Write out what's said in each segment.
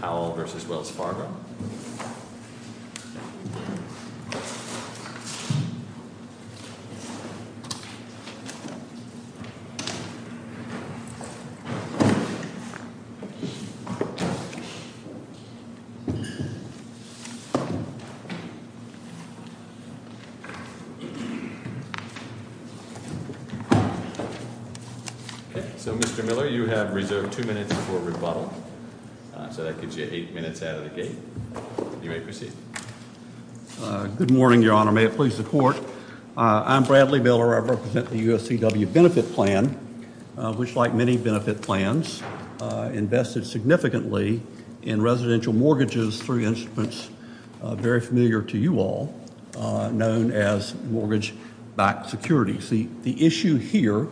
Powell v. Wells Fargo Mr. Miller, you have reserved two minutes before rebuttal, so that gives you eight minutes out of the gate. You may proceed. Good morning, Your Honor. May it please the Court. I'm Bradley Miller. I represent the USCW Benefit Plan, which, like many benefit plans, invested significantly in residential mortgages through instruments very familiar to you all, known as mortgage-backed securities. The issue here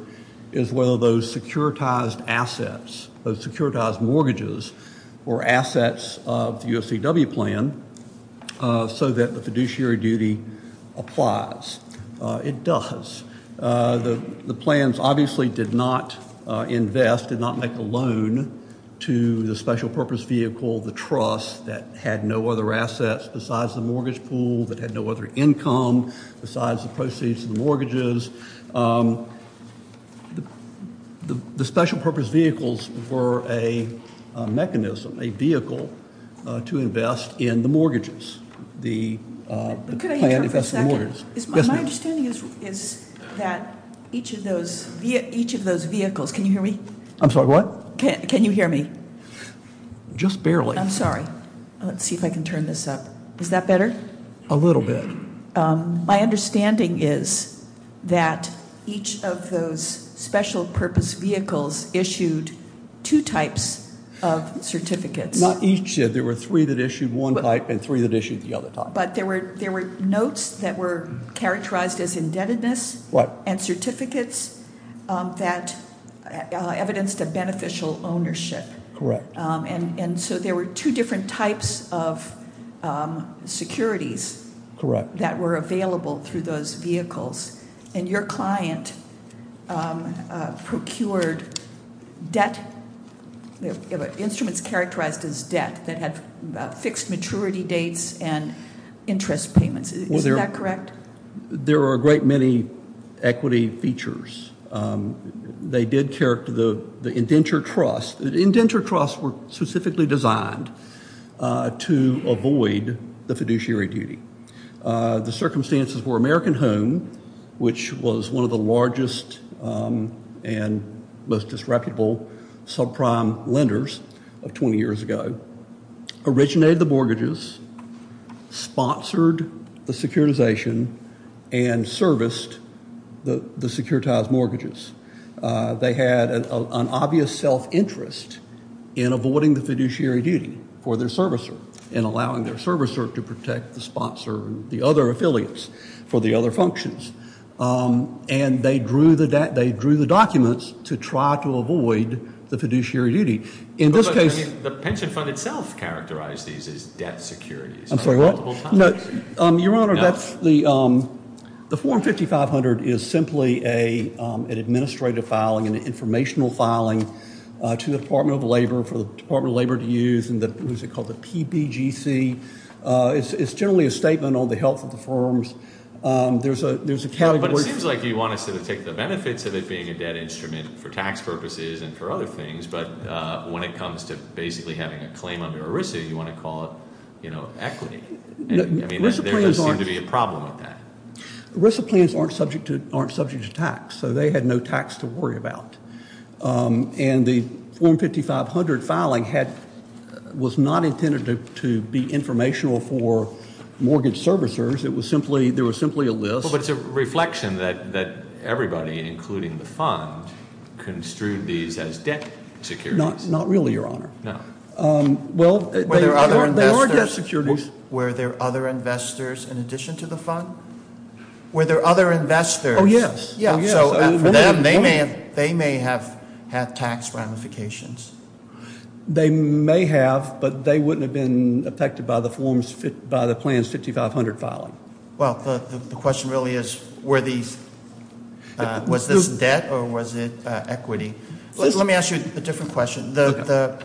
is whether those securitized assets, those securitized mortgages, were assets of the USCW plan so that the fiduciary duty applies. It does. The plans obviously did not invest, did not make a loan to the special purpose vehicle, the trust, that had no other assets besides the mortgage pool, that had no other income besides the proceeds of the mortgages. The special purpose vehicles were a mechanism, a vehicle, to invest in the mortgages. The plan invested in mortgages. Could I interrupt for a second? Yes, ma'am. My understanding is that each of those vehicles, can you hear me? I'm sorry, what? Can you hear me? Just barely. I'm sorry. Let's see if I can turn this up. Is that better? A little bit. My understanding is that each of those special purpose vehicles issued two types of certificates. Not each. There were three that issued one type and three that issued the other type. But there were notes that were characterized as indebtedness and certificates that evidenced a beneficial ownership. Correct. And so there were two different types of securities. Correct. That were available through those vehicles. And your client procured instruments characterized as debt that had fixed maturity dates and interest payments. Isn't that correct? There are a great many equity features. They did characterize the indenture trust. The indenture trusts were specifically designed to avoid the fiduciary duty. The circumstances were American Home, which was one of the largest and most disreputable subprime lenders of 20 years ago, originated the mortgages, sponsored the securitization, and serviced the securitized mortgages. They had an obvious self-interest in avoiding the fiduciary duty for their servicer and allowing their servicer to protect the sponsor and the other affiliates for the other functions. And they drew the documents to try to avoid the fiduciary duty. But the pension fund itself characterized these as debt securities. I'm sorry, what? Your Honor, the form 5500 is simply an administrative filing, an informational filing, to the Department of Labor for the Department of Labor to use. What is it called? The PBGC. It's generally a statement on the health of the firms. There's a category. But it seems like you want us to take the benefits of it being a debt instrument for tax purposes and for other things. But when it comes to basically having a claim under ERISA, you want to call it equity. There doesn't seem to be a problem with that. ERISA plans aren't subject to tax, so they had no tax to worry about. And the form 5500 filing was not intended to be informational for mortgage servicers. There was simply a list. Well, but it's a reflection that everybody, including the fund, construed these as debt securities. Not really, Your Honor. No. Well, they are debt securities. Were there other investors in addition to the fund? Were there other investors? Oh, yes. Oh, yes. So for them, they may have had tax ramifications. They may have, but they wouldn't have been affected by the plans 5500 filing. Well, the question really is were these, was this debt or was it equity? Let me ask you a different question. The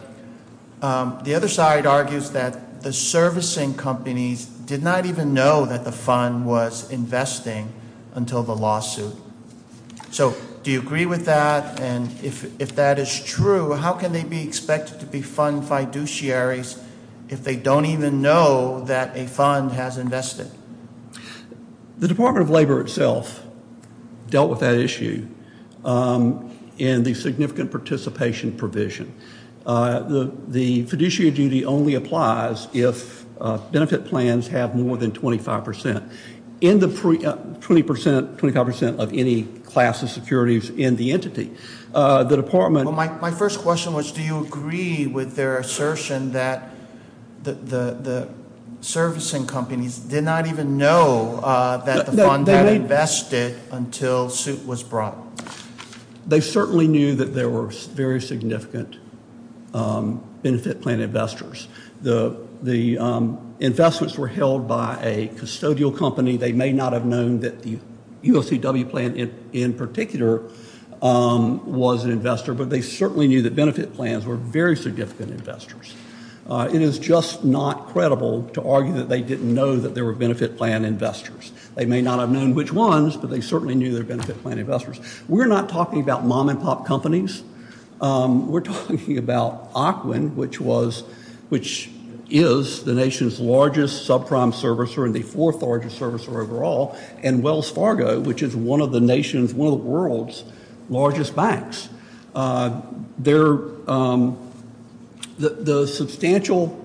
other side argues that the servicing companies did not even know that the fund was investing until the lawsuit. So do you agree with that? And if that is true, how can they be expected to be fund fiduciaries if they don't even know that a fund has invested? The Department of Labor itself dealt with that issue in the significant participation provision. The fiduciary duty only applies if benefit plans have more than 25 percent. In the 20 percent, 25 percent of any class of securities in the entity, the department- Well, my first question was do you agree with their assertion that the servicing companies did not even know that the fund had invested until suit was brought? They certainly knew that there were very significant benefit plan investors. The investments were held by a custodial company. They may not have known that the UOCW plan in particular was an investor, but they certainly knew that benefit plans were very significant investors. It is just not credible to argue that they didn't know that there were benefit plan investors. They may not have known which ones, but they certainly knew there were benefit plan investors. We're not talking about mom-and-pop companies. We're talking about Ocwin, which is the nation's largest subprime servicer and the fourth largest servicer overall, and Wells Fargo, which is one of the nation's, one of the world's largest banks. The substantial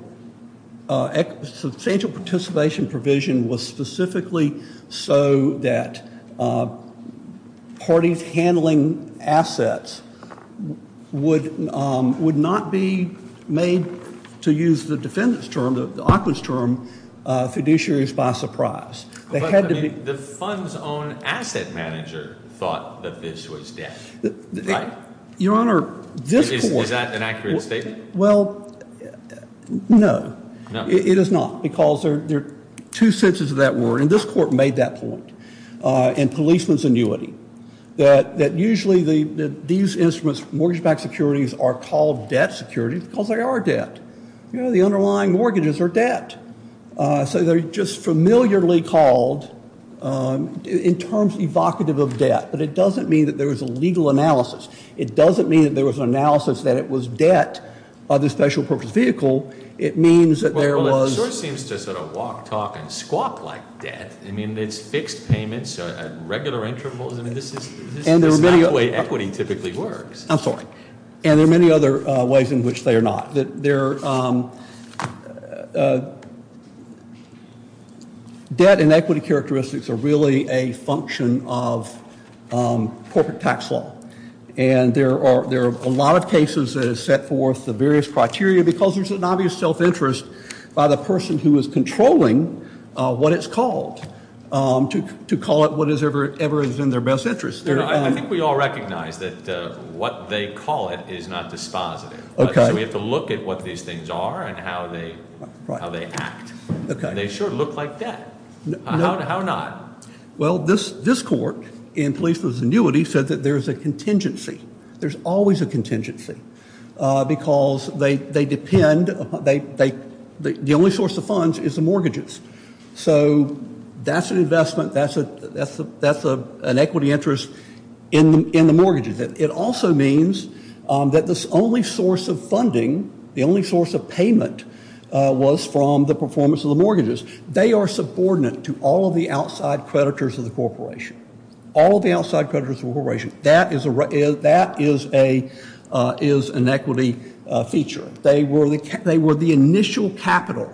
participation provision was specifically so that parties handling assets would not be made, to use the defendant's term, the Ocwin's term, fiduciaries by surprise. But the fund's own asset manager thought that this was debt, right? Your Honor, this court— Is that an accurate statement? Well, no. It is not because there are two senses of that word, and this court made that point in policeman's annuity, that usually these instruments, mortgage-backed securities, are called debt securities because they are debt. You know, the underlying mortgages are debt. So they're just familiarly called, in terms evocative of debt. But it doesn't mean that there was a legal analysis. It doesn't mean that there was an analysis that it was debt of the special purpose vehicle. It means that there was— Well, it sort of seems to sort of walk, talk, and squawk like debt. I mean, it's fixed payments, regular intervals. I mean, this is not the way equity typically works. I'm sorry. And there are many other ways in which they are not. There are—debt and equity characteristics are really a function of corporate tax law. And there are a lot of cases that have set forth the various criteria because there's an obvious self-interest by the person who is controlling what it's called, to call it whatever is in their best interest. I think we all recognize that what they call it is not dispositive. So we have to look at what these things are and how they act. And they sure look like debt. How not? Well, this court in police disinuity said that there's a contingency. There's always a contingency because they depend—the only source of funds is the mortgages. So that's an investment. That's an equity interest in the mortgages. It also means that the only source of funding, the only source of payment, was from the performance of the mortgages. They are subordinate to all of the outside creditors of the corporation. All of the outside creditors of the corporation. That is an equity feature. They were the initial capital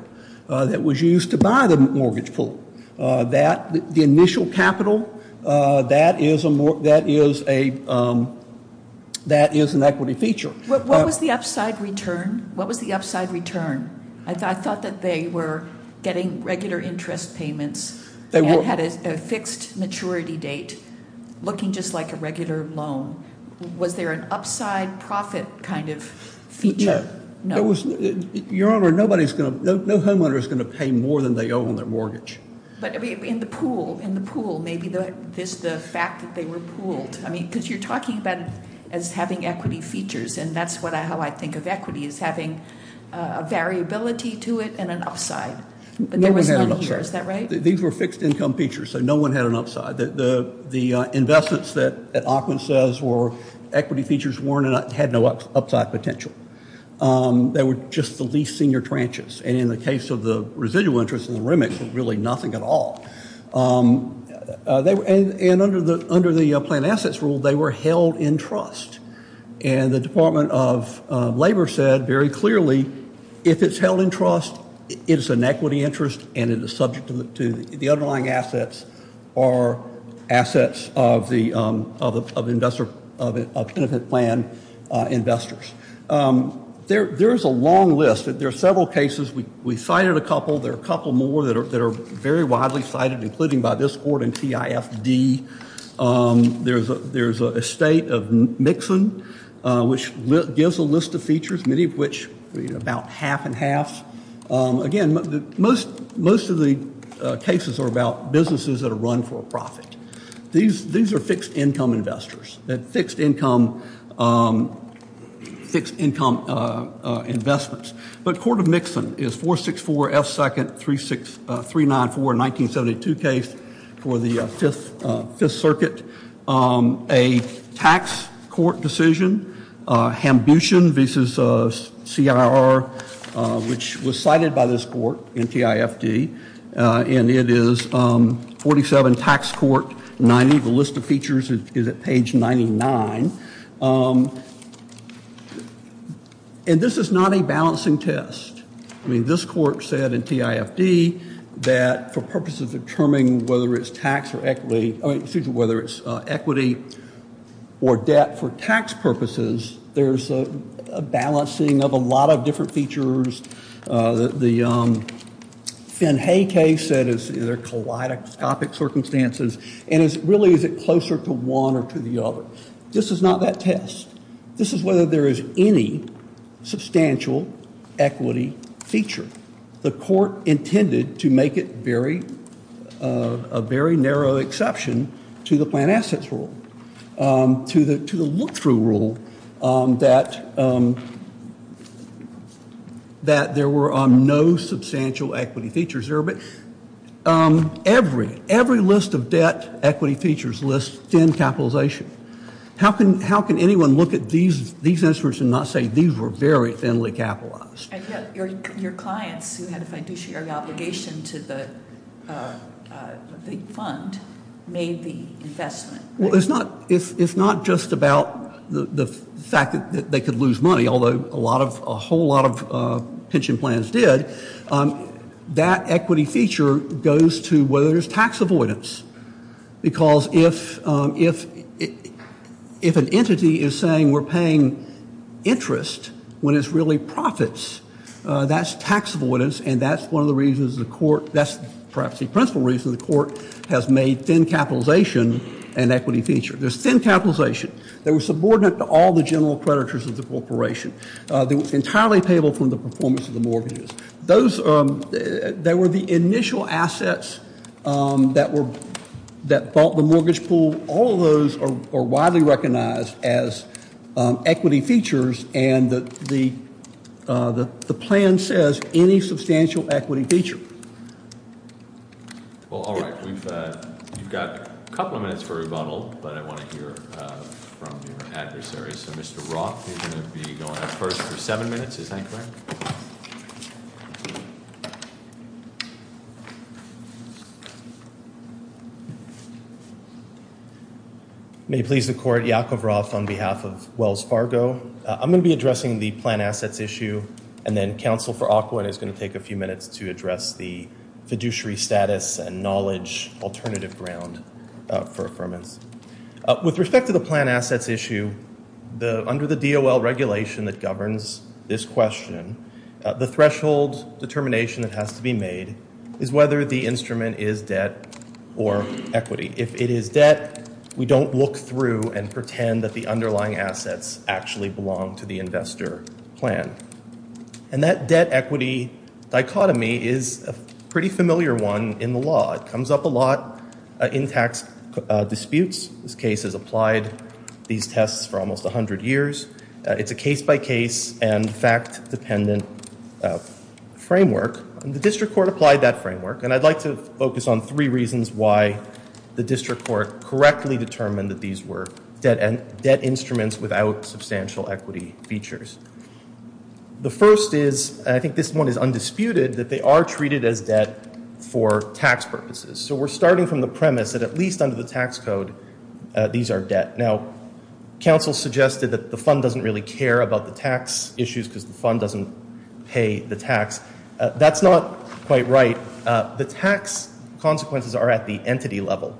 that was used to buy the mortgage pool. The initial capital, that is an equity feature. What was the upside return? I thought that they were getting regular interest payments and had a fixed maturity date looking just like a regular loan. Was there an upside profit kind of feature? No. Your Honor, no homeowner is going to pay more than they owe on their mortgage. But in the pool, maybe the fact that they were pooled. Because you're talking about it as having equity features, and that's how I think of equity, is having a variability to it and an upside. No one had an upside. There was none here, is that right? These were fixed income features, so no one had an upside. The investments that Ackman says were equity features had no upside potential. They were just the least senior tranches. And in the case of the residual interest in the remix, there was really nothing at all. And under the planned assets rule, they were held in trust. And the Department of Labor said very clearly, if it's held in trust, it is an equity interest, and it is subject to the underlying assets or assets of the benefit plan investors. There is a long list. There are several cases. We cited a couple. There are a couple more that are very widely cited, including by this court and TIFD. There's a state of Mixon, which gives a list of features, many of which are about half and half. Again, most of the cases are about businesses that are run for a profit. These are fixed income investors, fixed income investments. But Court of Mixon is 464 F. Second, three, six, three, nine, four. Nineteen seventy two case for the Fifth Circuit. A tax court decision. Hambushan v. C.I.R., which was cited by this court and TIFD. And it is forty seven tax court. Ninety. The list of features is at page ninety nine. And this is not a balancing test. I mean, this court said in TIFD that for purposes of determining whether it's tax or equity, whether it's equity or debt for tax purposes, there's a balancing of a lot of different features. The Finn Hay case said is either kaleidoscopic circumstances and is really is it closer to one or to the other? This is not that test. This is whether there is any substantial equity feature. The court intended to make it very a very narrow exception to the plant assets rule to the to the look through rule that. That that there were no substantial equity features there. But every every list of debt equity features list in capitalization. How can how can anyone look at these these instruments and not say these were very thinly capitalized? Your clients who had a fiduciary obligation to the fund made the investment. Well, it's not if it's not just about the fact that they could lose money, although a lot of a whole lot of pension plans did that equity feature goes to whether there's tax avoidance. Because if if if an entity is saying we're paying interest when it's really profits, that's tax avoidance. And that's one of the reasons the court that's perhaps the principal reason the court has made thin capitalization and equity feature. There's thin capitalization that was subordinate to all the general creditors of the corporation. Entirely payable from the performance of the mortgages. Those that were the initial assets that were that bought the mortgage pool. All of those are widely recognized as equity features. And the the the plan says any substantial equity feature. All right. We've got a couple of minutes for rebuttal, but I want to hear from the adversaries. So, Mr. Roth, you're going to be going first for seven minutes. Is that correct? May please the court. Yakov Roth on behalf of Wells Fargo. I'm going to be addressing the plan assets issue. And then counsel for awkward is going to take a few minutes to address the fiduciary status and knowledge alternative ground for affirmance. With respect to the plan assets issue, the under the deal, well, regulation that governs this question, the threshold determination that has to be made is whether the instrument is debt or equity. If it is debt, we don't look through and pretend that the underlying assets actually belong to the investor plan. And that debt equity dichotomy is a pretty familiar one in the law. It comes up a lot in tax disputes. This case has applied these tests for almost 100 years. It's a case by case and fact dependent framework. And the district court applied that framework. And I'd like to focus on three reasons why the district court correctly determined that these were debt and debt instruments without substantial equity features. The first is I think this one is undisputed that they are treated as debt for tax purposes. So we're starting from the premise that at least under the tax code, these are debt. Now, counsel suggested that the fund doesn't really care about the tax issues because the fund doesn't pay the tax. That's not quite right. The tax consequences are at the entity level.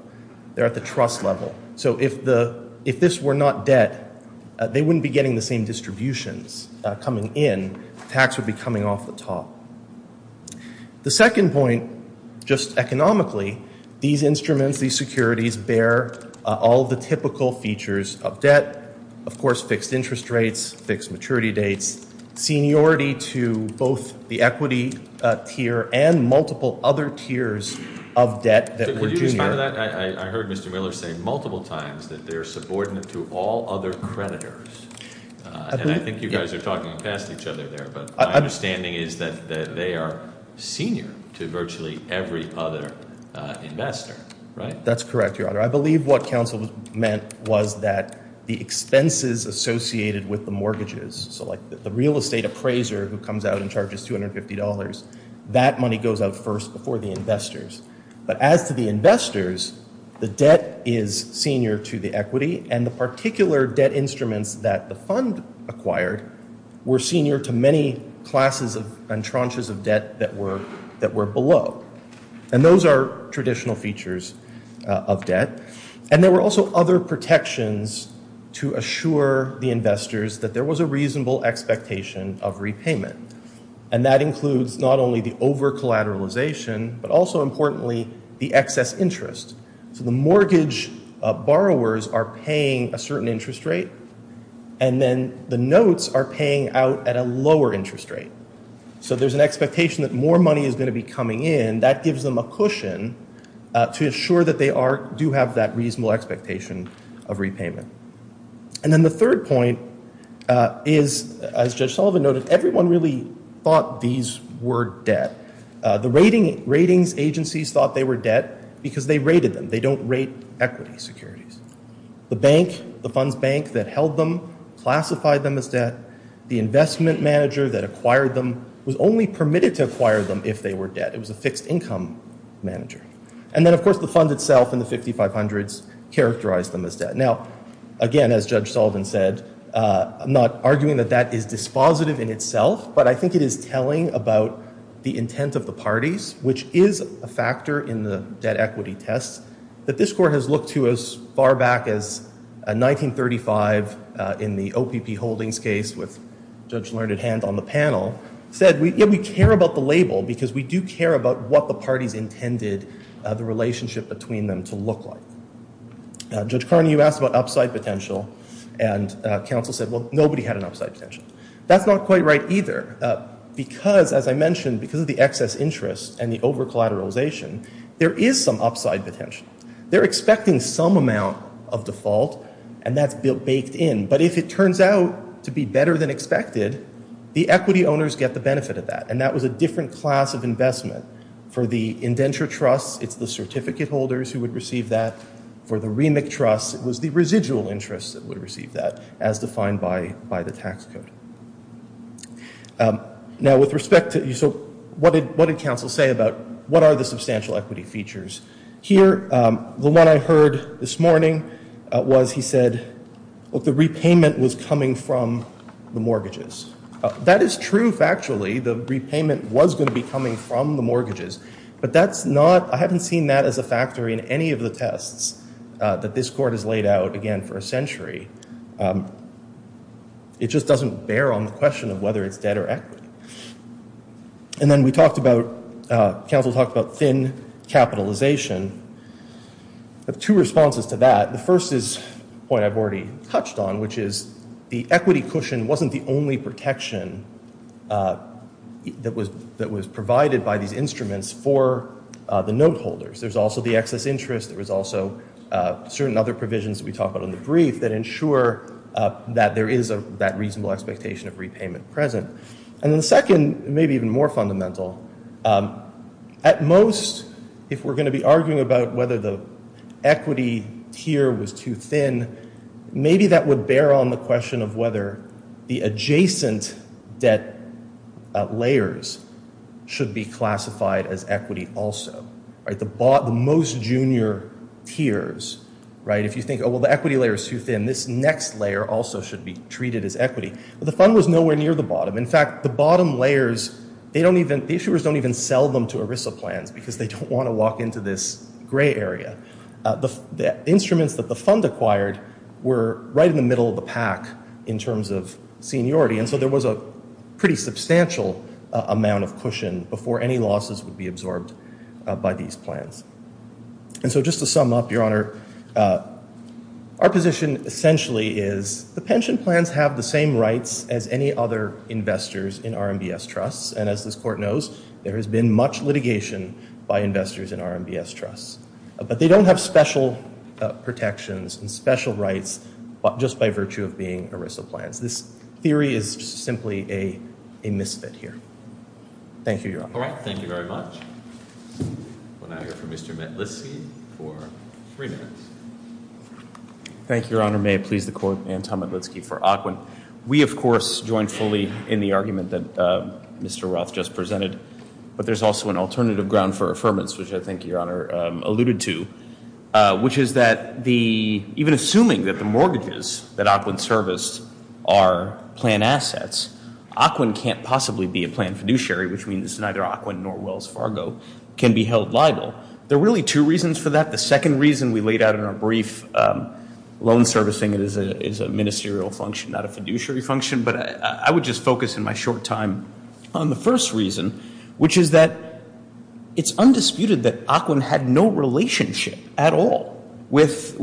They're at the trust level. So if the if this were not debt, they wouldn't be getting the same distributions coming in. Tax would be coming off the top. The second point, just economically, these instruments, these securities bear all the typical features of debt. Of course, fixed interest rates, fixed maturity dates, seniority to both the equity tier and multiple other tiers of debt. I heard Mr. Miller say multiple times that they're subordinate to all other creditors. And I think you guys are talking past each other there. But my understanding is that they are senior to virtually every other investor. That's correct, Your Honor. I believe what counsel meant was that the expenses associated with the mortgages. So like the real estate appraiser who comes out and charges two hundred fifty dollars, that money goes out first before the investors. But as to the investors, the debt is senior to the equity. And the particular debt instruments that the fund acquired were senior to many classes of and tranches of debt that were that were below. And those are traditional features of debt. And there were also other protections to assure the investors that there was a reasonable expectation of repayment. And that includes not only the over collateralization, but also importantly, the excess interest. So the mortgage borrowers are paying a certain interest rate and then the notes are paying out at a lower interest rate. So there's an expectation that more money is going to be coming in. That gives them a cushion to assure that they are do have that reasonable expectation of repayment. And then the third point is, as Judge Sullivan noted, everyone really thought these were debt. The ratings agencies thought they were debt because they rated them. They don't rate equity securities. The bank, the fund's bank that held them classified them as debt. The investment manager that acquired them was only permitted to acquire them if they were debt. It was a fixed income manager. And then, of course, the fund itself and the fifty five hundreds characterized them as debt. Now, again, as Judge Sullivan said, I'm not arguing that that is dispositive in itself, but I think it is telling about the intent of the parties, which is a factor in the debt equity test, that this court has looked to as far back as 1935 in the OPP Holdings case with Judge Learned Hand on the panel, said we care about the label because we do care about what the parties intended the relationship between them to look like. Judge Carney, you asked about upside potential, and counsel said, well, nobody had an upside potential. That's not quite right either because, as I mentioned, because of the excess interest and the over-collateralization, there is some upside potential. They're expecting some amount of default, and that's baked in. But if it turns out to be better than expected, the equity owners get the benefit of that, and that was a different class of investment. For the indenture trusts, it's the certificate holders who would receive that. For the remit trusts, it was the residual interests that would receive that, as defined by the tax code. Now, with respect to, so what did counsel say about what are the substantial equity features? Here, the one I heard this morning was he said, look, the repayment was coming from the mortgages. That is true factually. The repayment was going to be coming from the mortgages. But that's not, I haven't seen that as a factor in any of the tests that this court has laid out, again, for a century. It just doesn't bear on the question of whether it's debt or equity. And then we talked about, counsel talked about thin capitalization. I have two responses to that. The first is a point I've already touched on, which is the equity cushion wasn't the only protection that was provided by these instruments for the note holders. There's also the excess interest. There was also certain other provisions that we talked about in the brief that ensure that there is that reasonable expectation of repayment present. And the second, maybe even more fundamental, at most, if we're going to be arguing about whether the equity tier was too thin, maybe that would bear on the question of whether the adjacent debt layers should be classified as equity also. The most junior tiers, right, if you think, oh, well, the equity layer is too thin, this next layer also should be treated as equity. The fund was nowhere near the bottom. In fact, the bottom layers, they don't even, the issuers don't even sell them to ERISA plans because they don't want to walk into this gray area. The instruments that the fund acquired were right in the middle of the pack in terms of seniority. And so there was a pretty substantial amount of cushion before any losses would be absorbed by these plans. And so just to sum up, Your Honor, our position essentially is the pension plans have the same rights as any other investors in RMBS trusts. And as this court knows, there has been much litigation by investors in RMBS trusts. But they don't have special protections and special rights just by virtue of being ERISA plans. This theory is simply a misfit here. Thank you, Your Honor. All right. Thank you very much. We'll now hear from Mr. Metlitsky for three minutes. Thank you, Your Honor. May it please the Court, Anton Metlitsky for AQUIN. We, of course, join fully in the argument that Mr. Roth just presented. But there's also an alternative ground for affirmance, which I think Your Honor alluded to, which is that even assuming that the mortgages that AQUIN serviced are plan assets, AQUIN can't possibly be a plan fiduciary, which means neither AQUIN nor Wells Fargo can be held liable. There are really two reasons for that. The second reason we laid out in our brief, loan servicing is a ministerial function, not a fiduciary function. But I would just focus in my short time on the first reason, which is that it's undisputed that AQUIN had no relationship at all with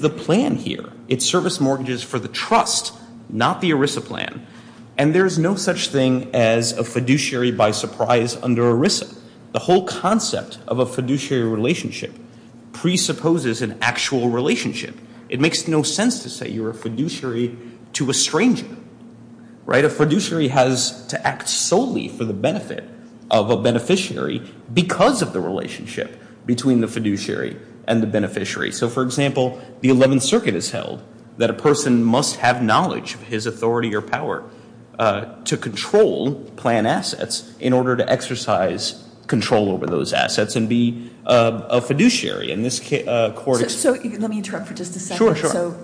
the plan here. It serviced mortgages for the trust, not the ERISA plan. And there's no such thing as a fiduciary by surprise under ERISA. The whole concept of a fiduciary relationship presupposes an actual relationship. It makes no sense to say you're a fiduciary to a stranger, right? A fiduciary has to act solely for the benefit of a beneficiary because of the relationship between the fiduciary and the beneficiary. So, for example, the 11th Circuit has held that a person must have knowledge of his authority or power to control plan assets in order to exercise control over those assets and be a fiduciary. So let me interrupt for just a second. Sure, sure.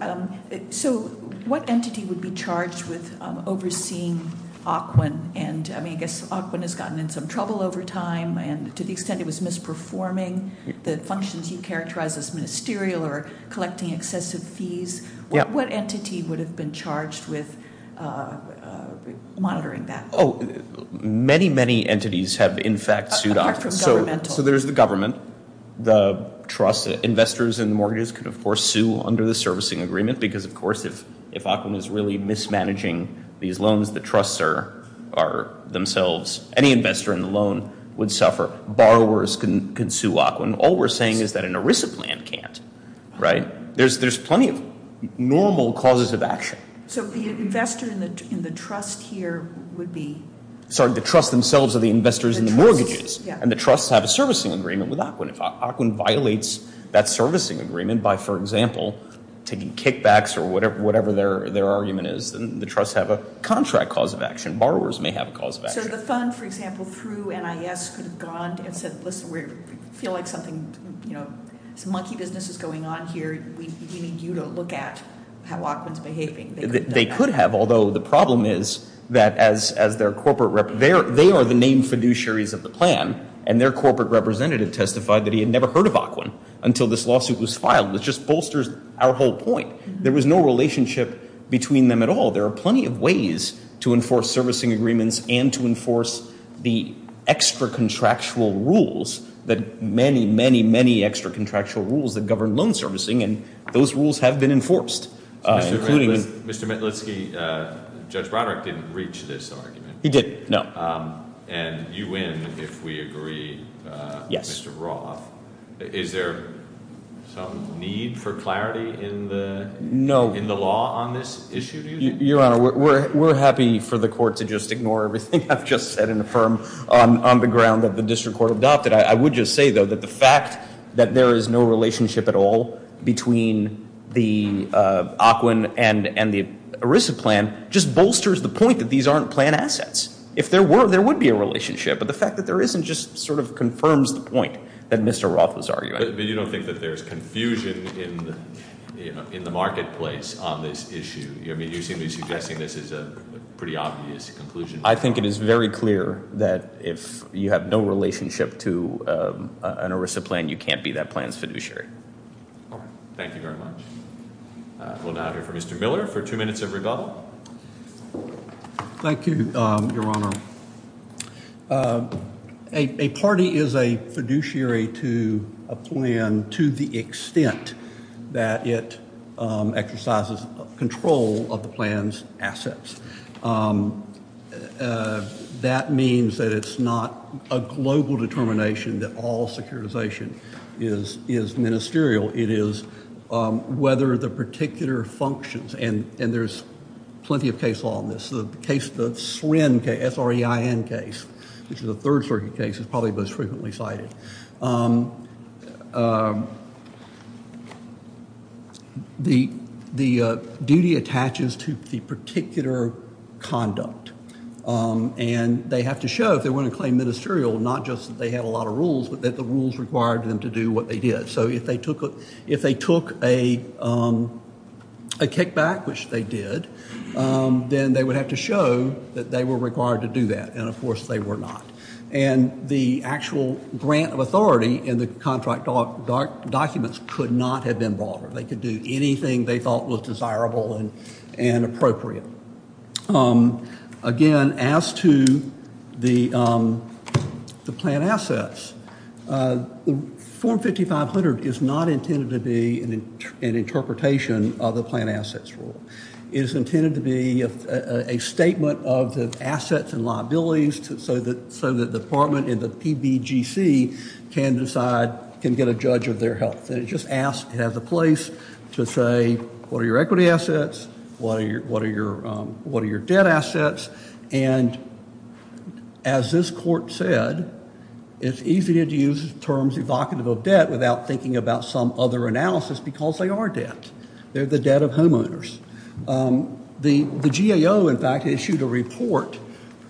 So what entity would be charged with overseeing AQUIN? And, I mean, I guess AQUIN has gotten in some trouble over time. And to the extent it was misperforming the functions you characterize as ministerial or collecting excessive fees, what entity would have been charged with monitoring that? Oh, many, many entities have, in fact, sued AQUIN. Apart from governmental. So there's the government, the trust. Investors and mortgages can, of course, sue under the servicing agreement because, of course, if AQUIN is really mismanaging these loans, the trusts are themselves. Any investor in the loan would suffer. Borrowers can sue AQUIN. All we're saying is that an ERISA plan can't, right? There's plenty of normal causes of action. So the investor in the trust here would be? Sorry, the trust themselves are the investors in the mortgages. And the trusts have a servicing agreement with AQUIN. If AQUIN violates that servicing agreement by, for example, taking kickbacks or whatever their argument is, then the trusts have a contract cause of action. Borrowers may have a cause of action. So the fund, for example, through NIS could have gone and said, Listen, we feel like something, you know, some monkey business is going on here. We need you to look at how AQUIN is behaving. They could have, although the problem is that as their corporate representatives, they are the named fiduciaries of the plan, and their corporate representative testified that he had never heard of AQUIN until this lawsuit was filed. It just bolsters our whole point. There was no relationship between them at all. There are plenty of ways to enforce servicing agreements and to enforce the extra contractual rules, the many, many, many extra contractual rules that govern loan servicing, and those rules have been enforced. Mr. Mitlitsky, Judge Broderick didn't reach this argument. He didn't, no. And you win if we agree with Mr. Roth. Is there some need for clarity in the law on this issue? Your Honor, we're happy for the court to just ignore everything I've just said and affirm on the ground that the district court adopted. I would just say, though, that the fact that there is no relationship at all between the AQUIN and the ERISA plan just bolsters the point that these aren't plan assets. If there were, there would be a relationship, but the fact that there isn't just sort of confirms the point that Mr. Roth was arguing. But you don't think that there's confusion in the marketplace on this issue? I mean, you seem to be suggesting this is a pretty obvious conclusion. I think it is very clear that if you have no relationship to an ERISA plan, you can't be that plan's fiduciary. Thank you very much. We'll now hear from Mr. Miller for two minutes of rebuttal. Thank you, Your Honor. A party is a fiduciary to a plan to the extent that it exercises control of the plan's assets. That means that it's not a global determination that all securitization is ministerial. It is whether the particular functions, and there's plenty of case law on this. The case, the SREIN case, which is a third circuit case, is probably the most frequently cited. The duty attaches to the particular conduct, and they have to show if they want to claim ministerial, not just that they have a lot of rules, but that the rules require them to do what they did. So if they took a kickback, which they did, then they would have to show that they were required to do that. And, of course, they were not. And the actual grant of authority in the contract documents could not have been broader. They could do anything they thought was desirable and appropriate. Again, as to the plan assets, Form 5500 is not intended to be an interpretation of the plan assets rule. It is intended to be a statement of the assets and liabilities so that the department and the PBGC can decide, can get a judge of their health. It just has a place to say, what are your equity assets? What are your debt assets? And as this court said, it's easy to use terms evocative of debt without thinking about some other analysis because they are debt. They're the debt of homeowners. The GAO, in fact, issued a report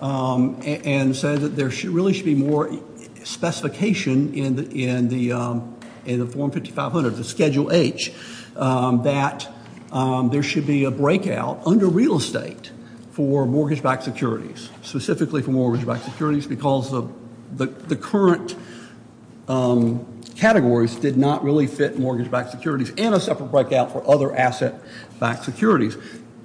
and said that there really should be more specification in the Form 5500, the Schedule H, that there should be a breakout under real estate for mortgage-backed securities, specifically for mortgage-backed securities because the current categories did not really fit mortgage-backed securities and a separate breakout for other asset-backed securities.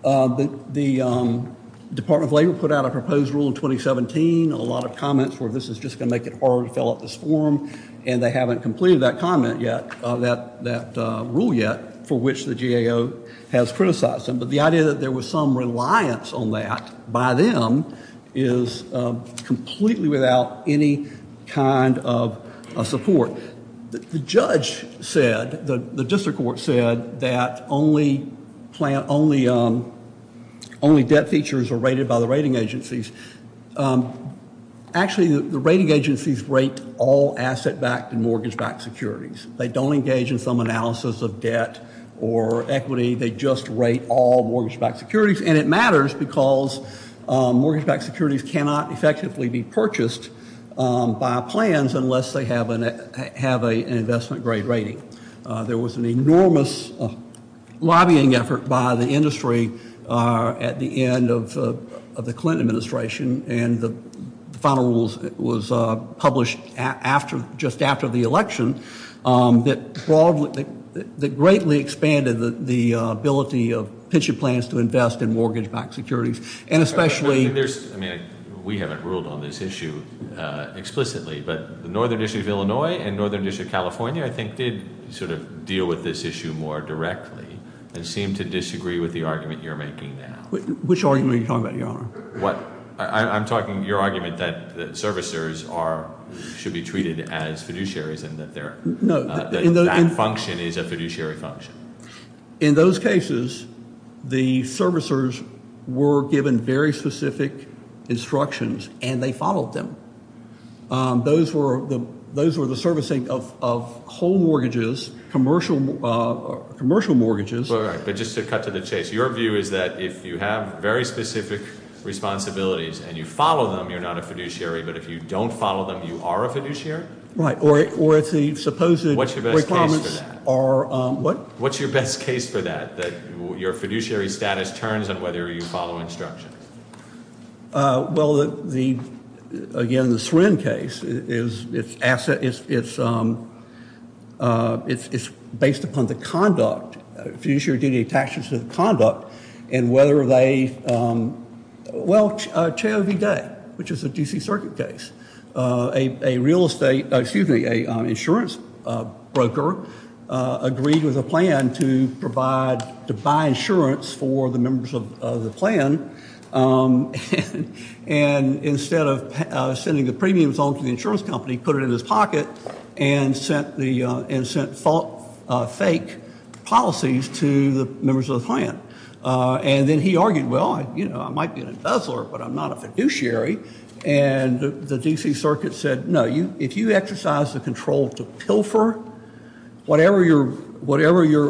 The Department of Labor put out a proposed rule in 2017, a lot of comments were this is just going to make it harder to fill out this form, and they haven't completed that comment yet, that rule yet, for which the GAO has criticized them. But the idea that there was some reliance on that by them is completely without any kind of support. So the judge said, the district court said, that only debt features are rated by the rating agencies. Actually, the rating agencies rate all asset-backed and mortgage-backed securities. They don't engage in some analysis of debt or equity. They just rate all mortgage-backed securities, and it matters because mortgage-backed securities cannot effectively be purchased by plans unless they have an investment-grade rating. There was an enormous lobbying effort by the industry at the end of the Clinton administration, and the final rules was published just after the election, that greatly expanded the ability of pension plans to invest in mortgage-backed securities, and especially- I mean, we haven't ruled on this issue explicitly, but the Northern District of Illinois and Northern District of California, I think, did sort of deal with this issue more directly and seem to disagree with the argument you're making now. Which argument are you talking about, Your Honor? I'm talking your argument that servicers should be treated as fiduciaries and that that function is a fiduciary function. In those cases, the servicers were given very specific instructions, and they followed them. Those were the servicing of whole mortgages, commercial mortgages. All right, but just to cut to the chase, your view is that if you have very specific responsibilities and you follow them, you're not a fiduciary, but if you don't follow them, you are a fiduciary? Right, or if the supposed requirements are- What's your best case for that, that your fiduciary status turns on whether you follow instructions? Well, again, the Srin case, it's based upon the conduct. Fiduciary duty attaches to the conduct and whether they- Well, Chao V. Day, which is a D.C. Circuit case. A real estate-excuse me, an insurance broker agreed with a plan to provide-to buy insurance for the members of the plan, and instead of sending the premiums on to the insurance company, put it in his pocket and sent fake policies to the members of the plan. And then he argued, well, I might be an embezzler, but I'm not a fiduciary. And the D.C. Circuit said, no, if you exercise the control to pilfer whatever your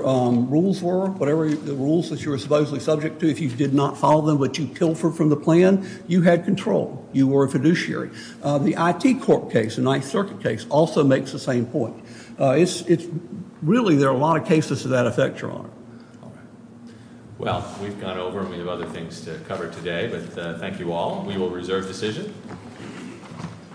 rules were, whatever the rules that you were supposedly subject to, if you did not follow them, but you pilfered from the plan, you had control. You were a fiduciary. The I.T. Court case, the Ninth Circuit case, also makes the same point. Really, there are a lot of cases to that effect, Your Honor. All right. Well, we've gone over, and we have other things to cover today, but thank you all. We will reserve decision.